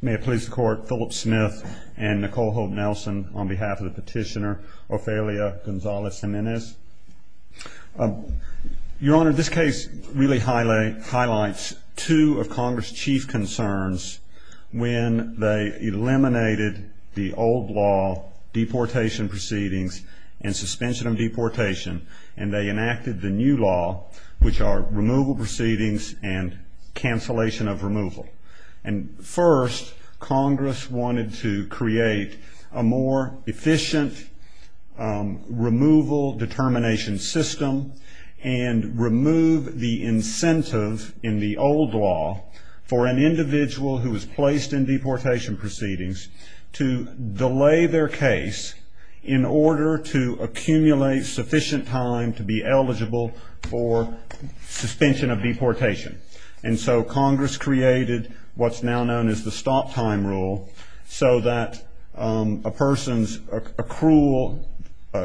May it please the Court, Philip Smith and Nicole Holt Nelson on behalf of the petitioner Ofelia Gonzalez-Jimenez. Your Honor, this case really highlights two of Congress' chief concerns when they eliminated the old law, deportation proceedings, and suspension of deportation, and they enacted the new law, which are removal proceedings and cancellation of removal. And first, Congress wanted to create a more efficient removal determination system and remove the incentive in the old law for an individual who was placed in deportation proceedings to delay their case in order to accumulate sufficient time to be eligible for suspension of deportation. And so Congress created what's now known as the stop time rule so that a person's accrual,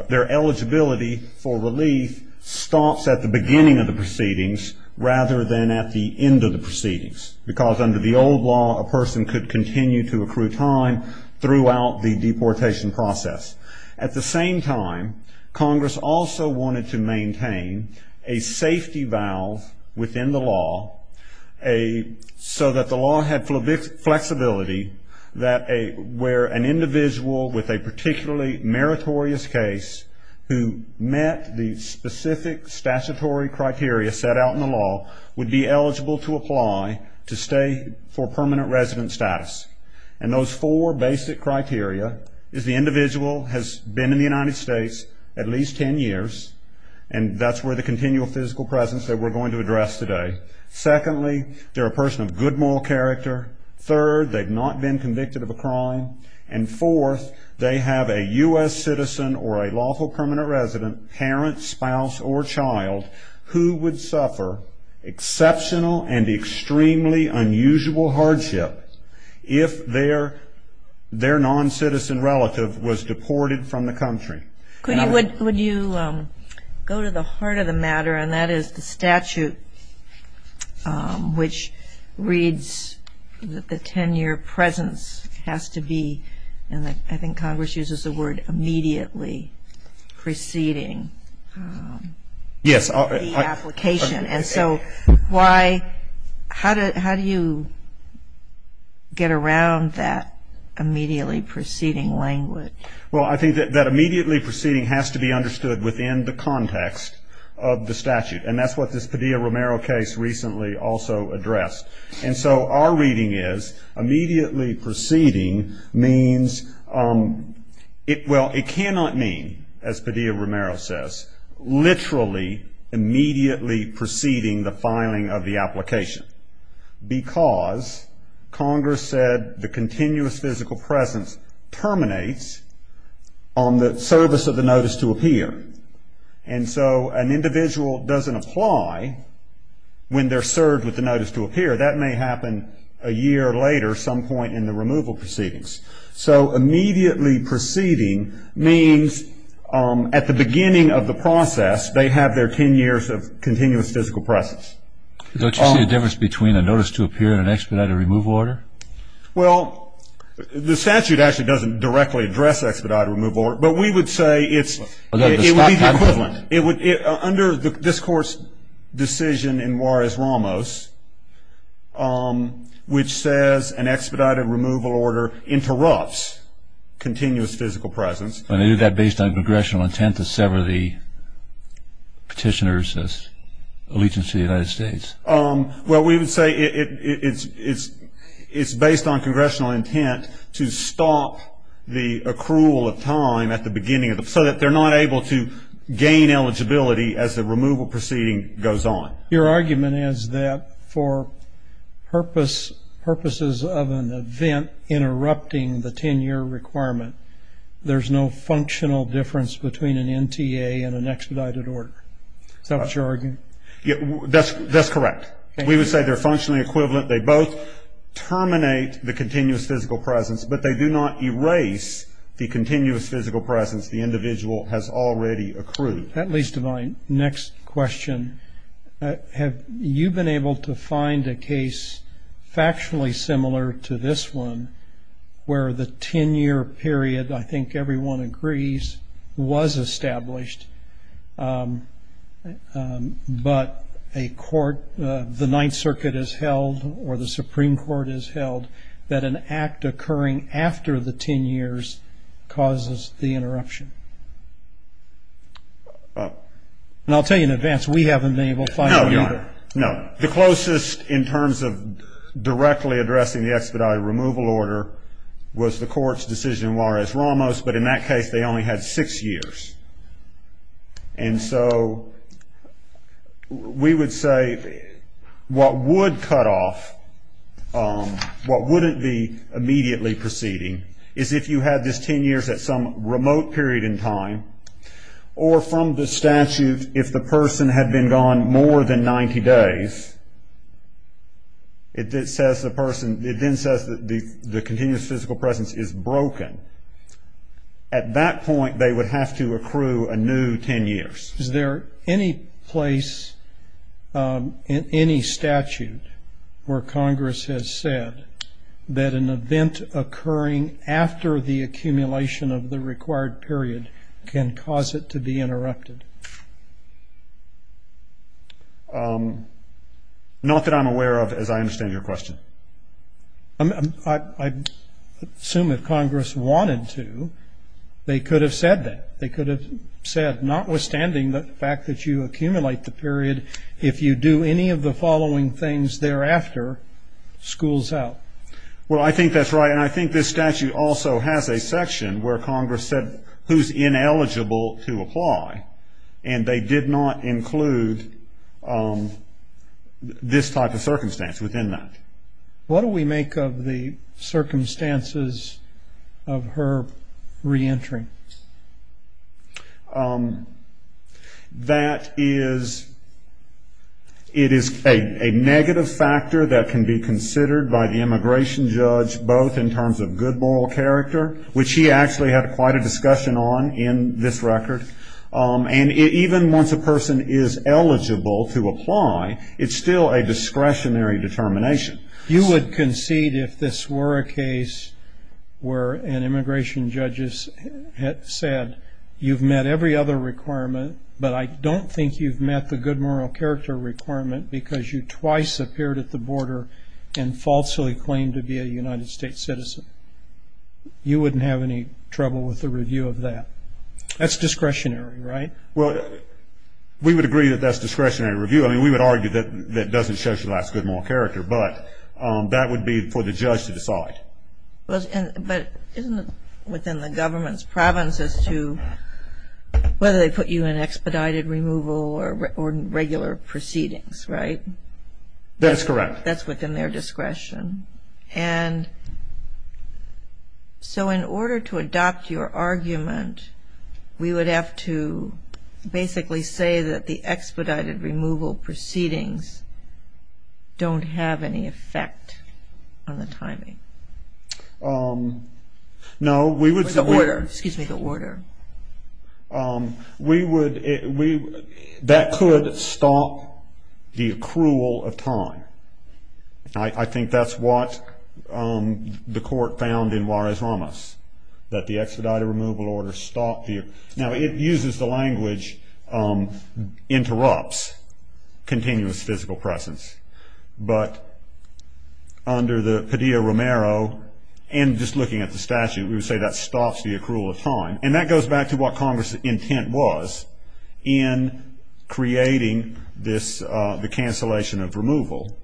their eligibility for relief stops at the beginning of the proceedings rather than at the end of the proceedings, because under the old law a person could continue to accrue time throughout the deportation process. At the same time, Congress also wanted to maintain a safety valve within the law so that the law had flexibility where an individual with a particularly meritorious case who met the specific statutory criteria set out in the law would be eligible to apply to stay for permanent resident status. And those four basic criteria is the individual has been in the United States at least ten years, and that's where the continual physical presence that we're going to address today. Secondly, they're a person of good moral character. Third, they've not been convicted of a crime. And fourth, they have a U.S. citizen or a lawful permanent resident, parent, spouse, or child, who would suffer exceptional and extremely unusual hardship if their non-citizen relative was deported from the country. Could you go to the heart of the matter, and that is the statute which reads that the ten-year presence has to be, and I think Congress uses the word, immediately preceding. Yes. The application. And so why, how do you get around that immediately preceding language? Well, I think that immediately preceding has to be understood within the context of the statute, and that's what this Padilla-Romero case recently also addressed. And so our reading is immediately preceding means, well, it cannot mean, as Padilla-Romero says, literally immediately preceding the filing of the application, because Congress said the continuous physical presence terminates on the service of the notice to appear. And so an individual doesn't apply when they're served with the notice to appear. That may happen a year later, some point in the removal proceedings. So immediately preceding means at the beginning of the process they have their ten years of continuous physical presence. Don't you see a difference between a notice to appear and an expedited remove order? Well, the statute actually doesn't directly address expedited remove order, but we would say it's It would be the equivalent. Under this Court's decision in Juarez-Ramos, which says an expedited removal order interrupts continuous physical presence. And they do that based on congressional intent to sever the petitioner's allegiance to the United States. Well, we would say it's based on congressional intent to stop the accrual of time at the beginning so that they're not able to gain eligibility as the removal proceeding goes on. Your argument is that for purposes of an event interrupting the ten-year requirement, there's no functional difference between an NTA and an expedited order. Is that what you're arguing? That's correct. We would say they're functionally equivalent. They both terminate the continuous physical presence, but they do not erase the continuous physical presence the individual has already accrued. That leads to my next question. Have you been able to find a case factually similar to this one where the ten-year period, I think everyone agrees, was established, but a court, the Ninth Circuit has held or the Supreme Court has held that an act occurring after the ten years causes the interruption? And I'll tell you in advance, we haven't been able to find either. No, no. The closest in terms of directly addressing the expedited removal order was the Court's decision in Juarez-Ramos, but in that case they only had six years. And so we would say what would cut off, what wouldn't be immediately proceeding, is if you had this ten years at some remote period in time, or from the statute if the person had been gone more than 90 days, it says the person, it then says that the continuous physical presence is broken. At that point, they would have to accrue a new ten years. Is there any place in any statute where Congress has said that an event occurring after the accumulation of the required period can cause it to be interrupted? Not that I'm aware of, as I understand your question. I assume if Congress wanted to, they could have said that. They could have said, notwithstanding the fact that you accumulate the period, if you do any of the following things thereafter, schools out. Well, I think that's right. And I think this statute also has a section where Congress said who's ineligible to apply, and they did not include this type of circumstance within that. What do we make of the circumstances of her re-entry? That is, it is a negative factor that can be considered by the immigration judge, both in terms of good moral character, which he actually had quite a discussion on in this record, and even once a person is eligible to apply, it's still a discretionary determination. You would concede if this were a case where an immigration judge had said you've met every other requirement, but I don't think you've met the good moral character requirement because you twice appeared at the border and falsely claimed to be a United States citizen. You wouldn't have any trouble with a review of that. That's discretionary, right? Well, we would agree that that's discretionary review. I mean, we would argue that that doesn't show your last good moral character, but that would be for the judge to decide. But isn't it within the government's province as to whether they put you in expedited removal or regular proceedings, right? That's correct. That's within their discretion. And so in order to adopt your argument, we would have to basically say that the expedited removal proceedings don't have any effect on the timing. No, we would say we're Or the order, excuse me, the order. We would, that could stop the accrual of time. I think that's what the court found in Juarez-Ramas, that the expedited removal order stopped the Now, it uses the language, interrupts continuous physical presence. But under the Padilla-Romero, and just looking at the statute, we would say that stops the accrual of time. And that goes back to what Congress's intent was in creating this, the cancellation of removal.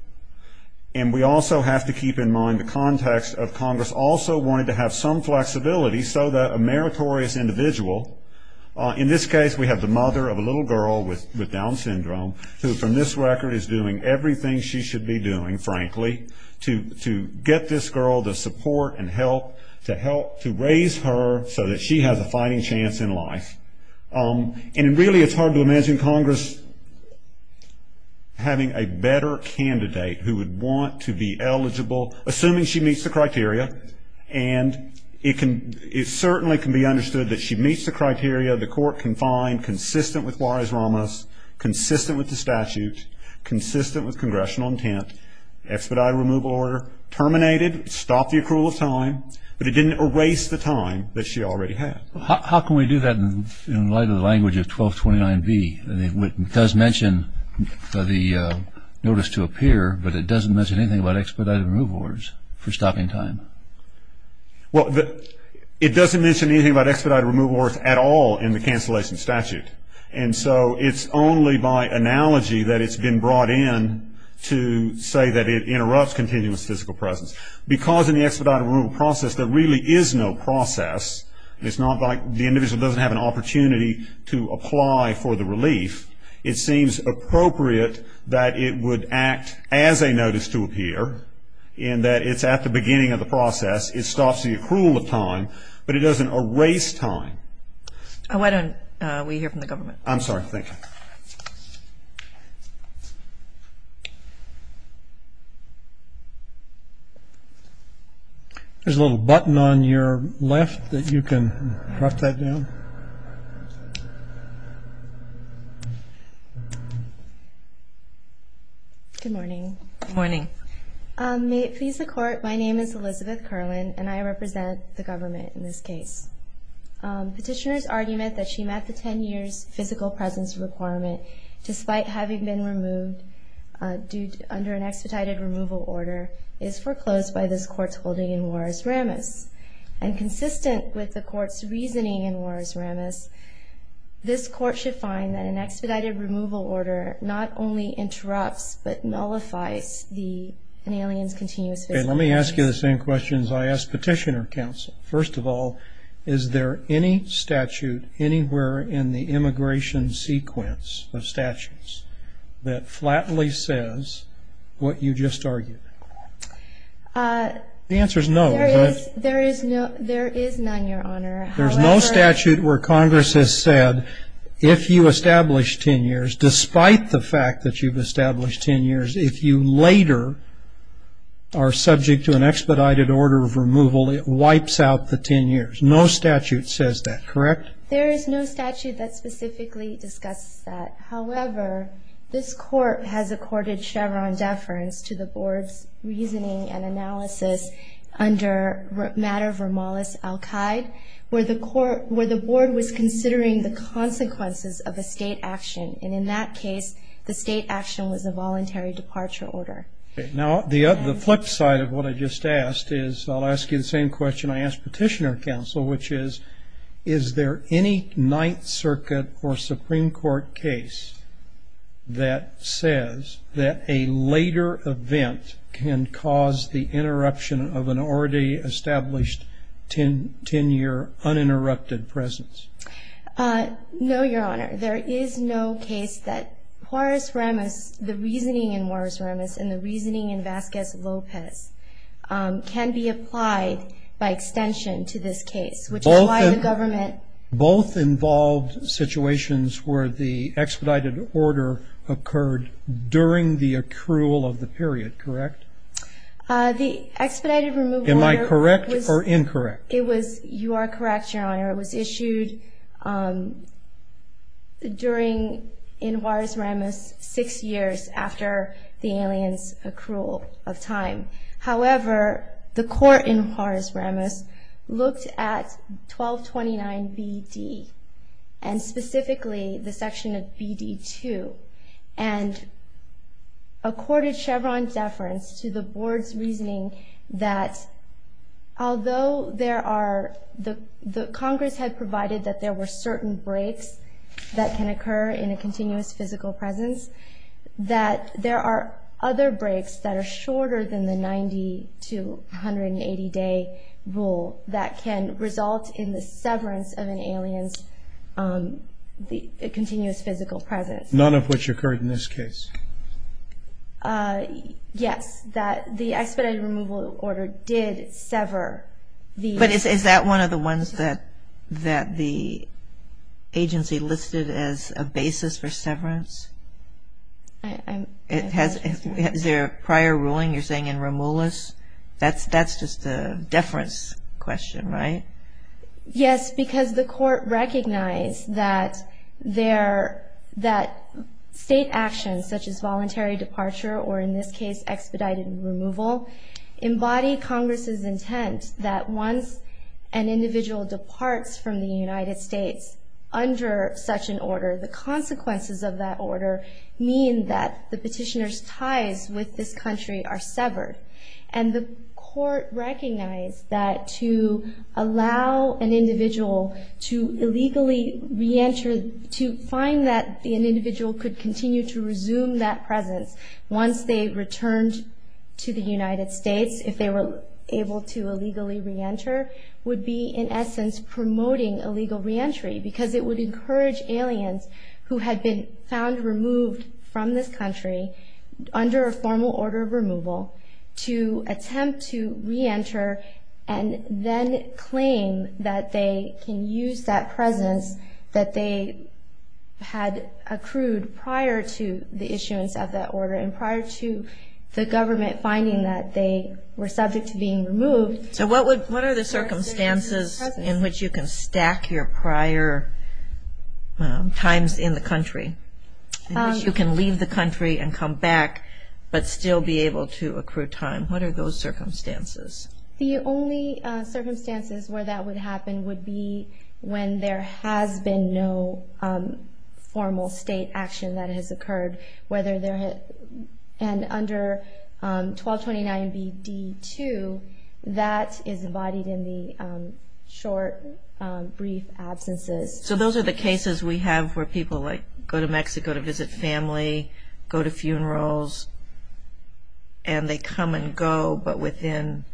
And we also have to keep in mind the context of Congress also wanted to have some flexibility so that a meritorious individual, in this case we have the mother of a little girl with Down syndrome, who from this record is doing everything she should be doing, frankly, to get this girl the support and help to raise her so that she has a fighting chance in life. And really, it's hard to imagine Congress having a better candidate who would want to be eligible, assuming she meets the criteria. And it certainly can be understood that she meets the criteria the court can find consistent with Juarez-Ramas, consistent with the statute, consistent with congressional intent, expedited removal order terminated, stopped the accrual of time, but it didn't erase the time that she already had. How can we do that in light of the language of 1229B? It does mention the notice to appear, but it doesn't mention anything about expedited removal orders for stopping time. Well, it doesn't mention anything about expedited removal orders at all in the cancellation statute. And so it's only by analogy that it's been brought in to say that it interrupts continuous physical presence. Because in the expedited removal process there really is no process, it's not like the individual doesn't have an opportunity to apply for the relief, it seems appropriate that it would act as a notice to appear in that it's at the beginning of the process, it stops the accrual of time, but it doesn't erase time. Why don't we hear from the government? I'm sorry, thank you. There's a little button on your left that you can press that down. Good morning. Good morning. May it please the Court, my name is Elizabeth Carlin and I represent the government in this case. Petitioner's argument that she met the 10 years physical presence requirement despite having been removed under an expedited removal order is foreclosed by this Court's holding in Juarez-Ramas. And consistent with the Court's reasoning in Juarez-Ramas, this Court should find that an expedited removal order not only interrupts but nullifies an alien's continuous physical presence. Okay, let me ask you the same questions I asked Petitioner, counsel. First of all, is there any statute anywhere in the immigration sequence of statutes that flatly says what you just argued? The answer is no. There is none, Your Honor. There's no statute where Congress has said if you establish 10 years, despite the fact that you've established 10 years, if you later are subject to an expedited order of removal, it wipes out the 10 years. No statute says that, correct? There is no statute that specifically discusses that. However, this Court has accorded Chevron deference to the Board's reasoning and analysis under matter of remolis al-Qaeda, where the Board was considering the consequences of a state action. And in that case, the state action was a voluntary departure order. Now, the flip side of what I just asked is I'll ask you the same question I asked Petitioner, counsel, which is is there any Ninth Circuit or Supreme Court case that says that a later event can cause the interruption of an already established 10-year uninterrupted presence? No, Your Honor. There is no case that Juarez-Ramas, the reasoning in Juarez-Ramas and the reasoning in Vasquez-Lopez can be applied by extension to this case, which is why the government- Both involved situations where the expedited order occurred during the accrual of the period, correct? The expedited removal- Am I correct or incorrect? You are correct, Your Honor. It was issued during- in Juarez-Ramas six years after the alien's accrual of time. However, the court in Juarez-Ramas looked at 1229 B.D. and specifically the section of B.D. 2 and accorded Chevron deference to the Board's reasoning that although there are- the Congress had provided that there were certain breaks that can occur in a continuous physical presence, that there are other breaks that are shorter than the 90- to 180-day rule that can result in the severance of an alien's continuous physical presence. None of which occurred in this case? Yes. The expedited removal order did sever the- But is that one of the ones that the agency listed as a basis for severance? I'm- Is there a prior ruling you're saying in Ramoulis? That's just a deference question, right? Yes, because the court recognized that there- that state actions such as voluntary departure or, in this case, expedited removal, embody Congress's intent that once an individual departs from the United States under such an order, the consequences of that order mean that the petitioner's ties with this country are severed. And the court recognized that to allow an individual to illegally re-enter, to find that an individual could continue to resume that presence once they returned to the United States, if they were able to illegally re-enter, would be, in essence, promoting illegal re-entry, because it would encourage aliens who had been found removed from this country under a formal order of removal to attempt to re-enter and then claim that they can use that presence that they had accrued prior to the issuance of that order and prior to the government finding that they were subject to being removed. So what are the circumstances in which you can stack your prior times in the country, in which you can leave the country and come back but still be able to accrue time? What are those circumstances? The only circumstances where that would happen would be when there has been no formal state action that has occurred, whether there had- and under 1229BD2, that is embodied in the short, brief absences. So those are the cases we have where people go to Mexico to visit family, go to funerals, and they come and go but within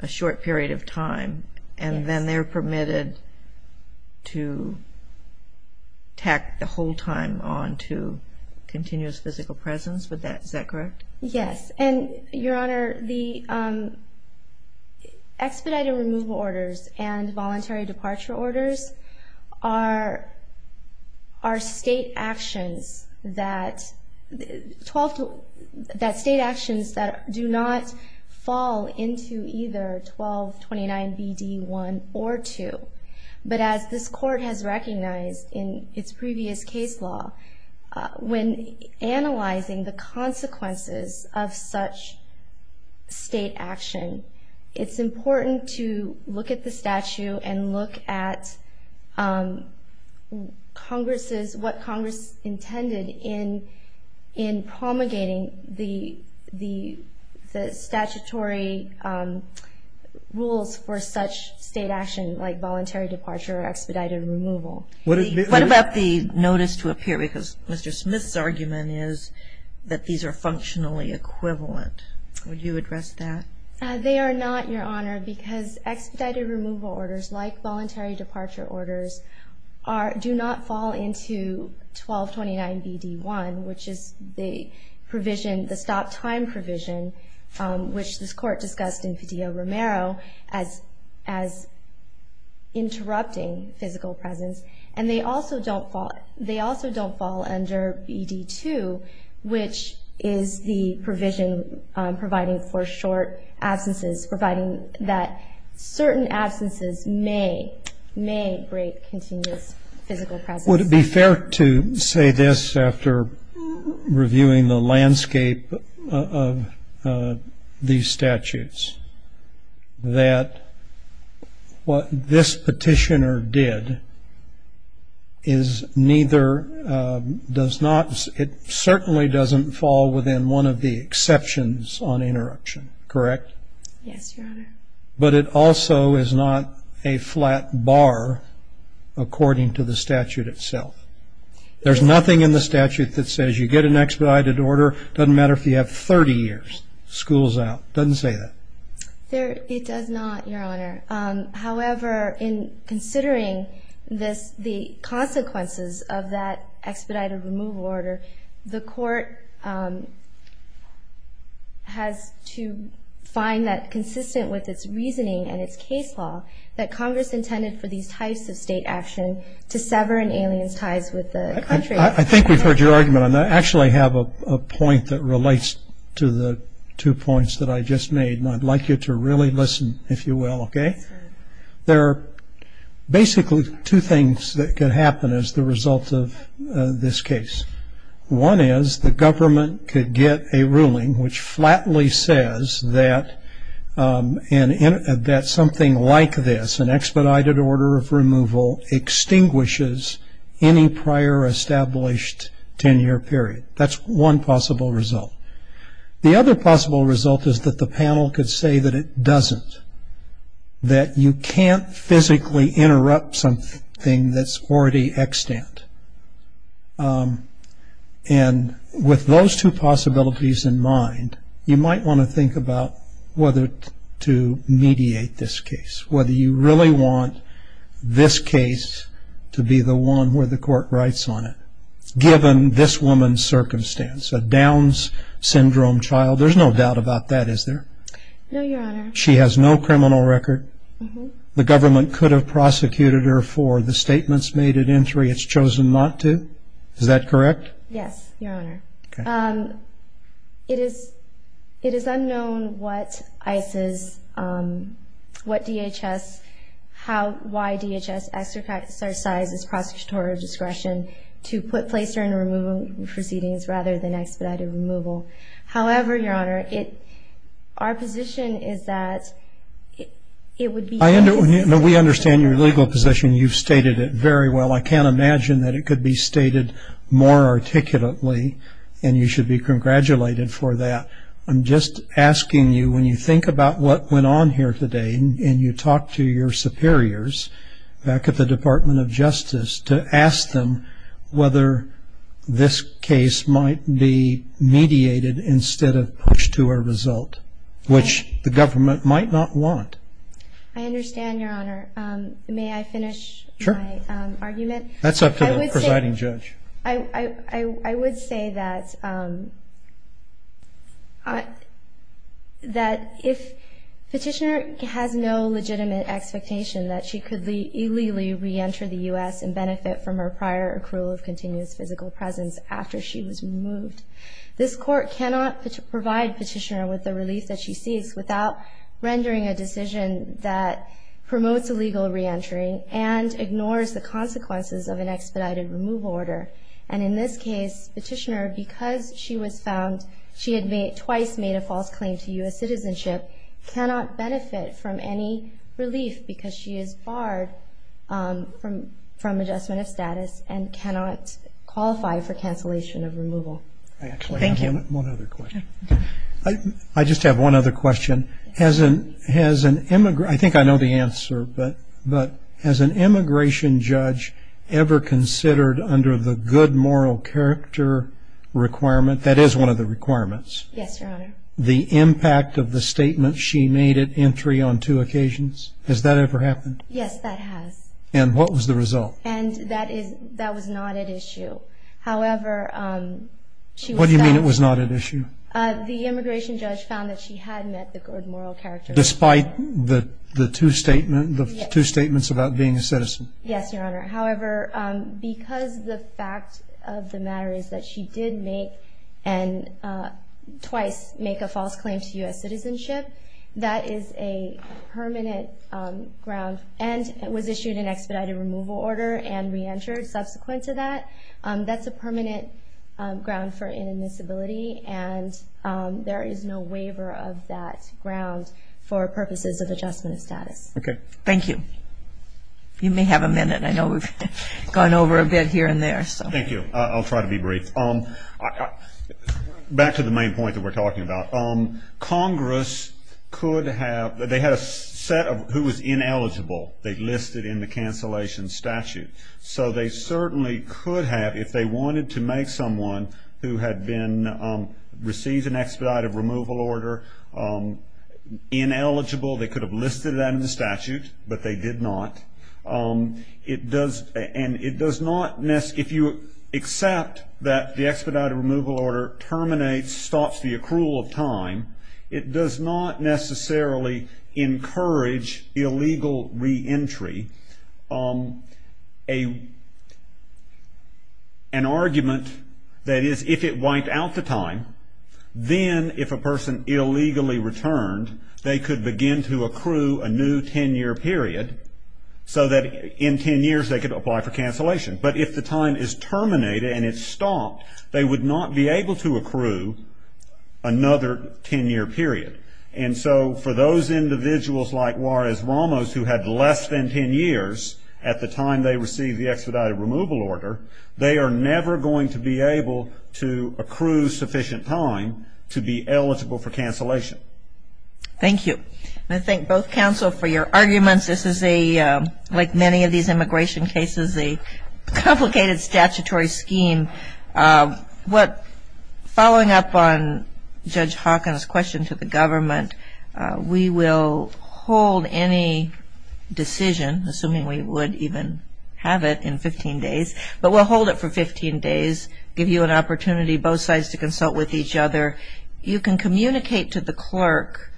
a short period of time, and then they're permitted to tack the whole time on to continuous physical presence, is that correct? Yes. And, Your Honor, the expedited removal orders and voluntary departure orders are state actions that- that state actions that do not fall into either 1229BD1 or 2. But as this Court has recognized in its previous case law, when analyzing the consequences of such state action, it's important to look at the statute and look at Congress's- What about the notice to appear? Because Mr. Smith's argument is that these are functionally equivalent. Would you address that? They are not, Your Honor, because expedited removal orders, like voluntary departure orders are- do not fall into 1229BD1, which is the provision, the stop time provision, which this Court discussed in Fedillo-Romero as- as interrupting physical presence. And they also don't fall- they also don't fall under BD2, which is the provision providing for short absences, providing that certain absences may- may break continuous physical presence. Would it be fair to say this after reviewing the landscape of these statutes, that what this petitioner did is neither- does not- it certainly doesn't fall within one of the exceptions on interruption, correct? Yes, Your Honor. But it also is not a flat bar according to the statute itself. There's nothing in the statute that says you get an expedited order, doesn't matter if you have 30 years, school's out. Doesn't say that. There- it does not, Your Honor. However, in considering this- the consequences of that expedited removal order, the Court has to find that consistent with its reasoning and its case law, that Congress intended for these types of state action to sever an alien's ties with the country. I think we've heard your argument on that. Actually, I have a point that relates to the two points that I just made, and I'd like you to really listen, if you will, okay? There are basically two things that could happen as the result of this case. One is the government could get a ruling which flatly says that something like this, an expedited order of removal, extinguishes any prior established 10-year period. That's one possible result. The other possible result is that the panel could say that it doesn't, that you can't physically interrupt something that's already extant. And with those two possibilities in mind, you might want to think about whether to mediate this case, whether you really want this case to be the one where the Court writes on it, given this woman's circumstance, a Down's Syndrome child. There's no doubt about that, is there? No, Your Honor. She has no criminal record. The government could have prosecuted her for the statements made at entry. It's chosen not to. Is that correct? Yes, Your Honor. It is unknown what DHS, why DHS exercised its prosecutorial discretion to place her in removal proceedings rather than expedited removal. However, Your Honor, our position is that it would be... We understand your legal position. You've stated it very well. I can't imagine that it could be stated more articulately, and you should be congratulated for that. I'm just asking you, when you think about what went on here today and you talk to your superiors back at the Department of Justice, to ask them whether this case might be mediated instead of pushed to a result, which the government might not want. I understand, Your Honor. May I finish my argument? Sure. That's up to the presiding judge. I would say that if Petitioner has no legitimate expectation that she could illegally re-enter the U.S. and benefit from her prior accrual of continuous physical presence after she was removed, this Court cannot provide Petitioner with the relief that she seeks without rendering a decision that promotes illegal re-entering and ignores the consequences of an expedited removal order. And in this case, Petitioner, because she was found, she had twice made a false claim to U.S. citizenship, cannot benefit from any relief because she is barred from adjustment of status and cannot qualify for cancellation of removal. I actually have one other question. I just have one other question. I think I know the answer, but has an immigration judge ever considered under the good moral character requirement, that is one of the requirements, the impact of the statement she made at entry on two occasions? Has that ever happened? Yes, that has. And what was the result? And that was not at issue. What do you mean it was not at issue? The immigration judge found that she had met the good moral character requirement. Despite the two statements about being a citizen? Yes, Your Honor. However, because the fact of the matter is that she did make and twice make a false claim to U.S. citizenship, that is a permanent ground and was issued an expedited removal order and re-entered subsequent to that. That's a permanent ground for inadmissibility, and there is no waiver of that ground for purposes of adjustment of status. Okay. Thank you. You may have a minute. I know we've gone over a bit here and there. Thank you. I'll try to be brief. Back to the main point that we're talking about. Congress could have, they had a set of who was ineligible. They listed in the cancellation statute. So they certainly could have, if they wanted to make someone who had been, received an expedited removal order ineligible, they could have listed that in the statute, but they did not. It does not, if you accept that the expedited removal order terminates, stops the accrual of time, it does not necessarily encourage illegal re-entry. An argument that is if it wiped out the time, then if a person illegally returned, they could begin to accrue a new ten-year period so that in ten years they could apply for cancellation. But if the time is terminated and it's stopped, they would not be able to accrue another ten-year period. And so for those individuals like Juarez-Ramos who had less than ten years at the time they received the expedited removal order, they are never going to be able to accrue sufficient time to be eligible for cancellation. Thank you. And I thank both counsel for your arguments. This is a, like many of these immigration cases, a complicated statutory scheme. Following up on Judge Hawkins' question to the government, we will hold any decision, assuming we would even have it in 15 days, but we'll hold it for 15 days, give you an opportunity both sides to consult with each other. You can communicate to the clerk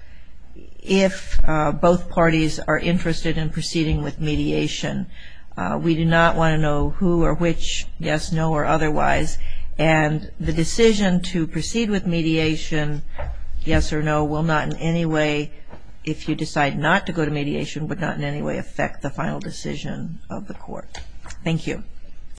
if both parties are interested in proceeding with mediation. We do not want to know who or which, yes, no, or otherwise. And the decision to proceed with mediation, yes or no, will not in any way, if you decide not to go to mediation, would not in any way affect the final decision of the court. Thank you.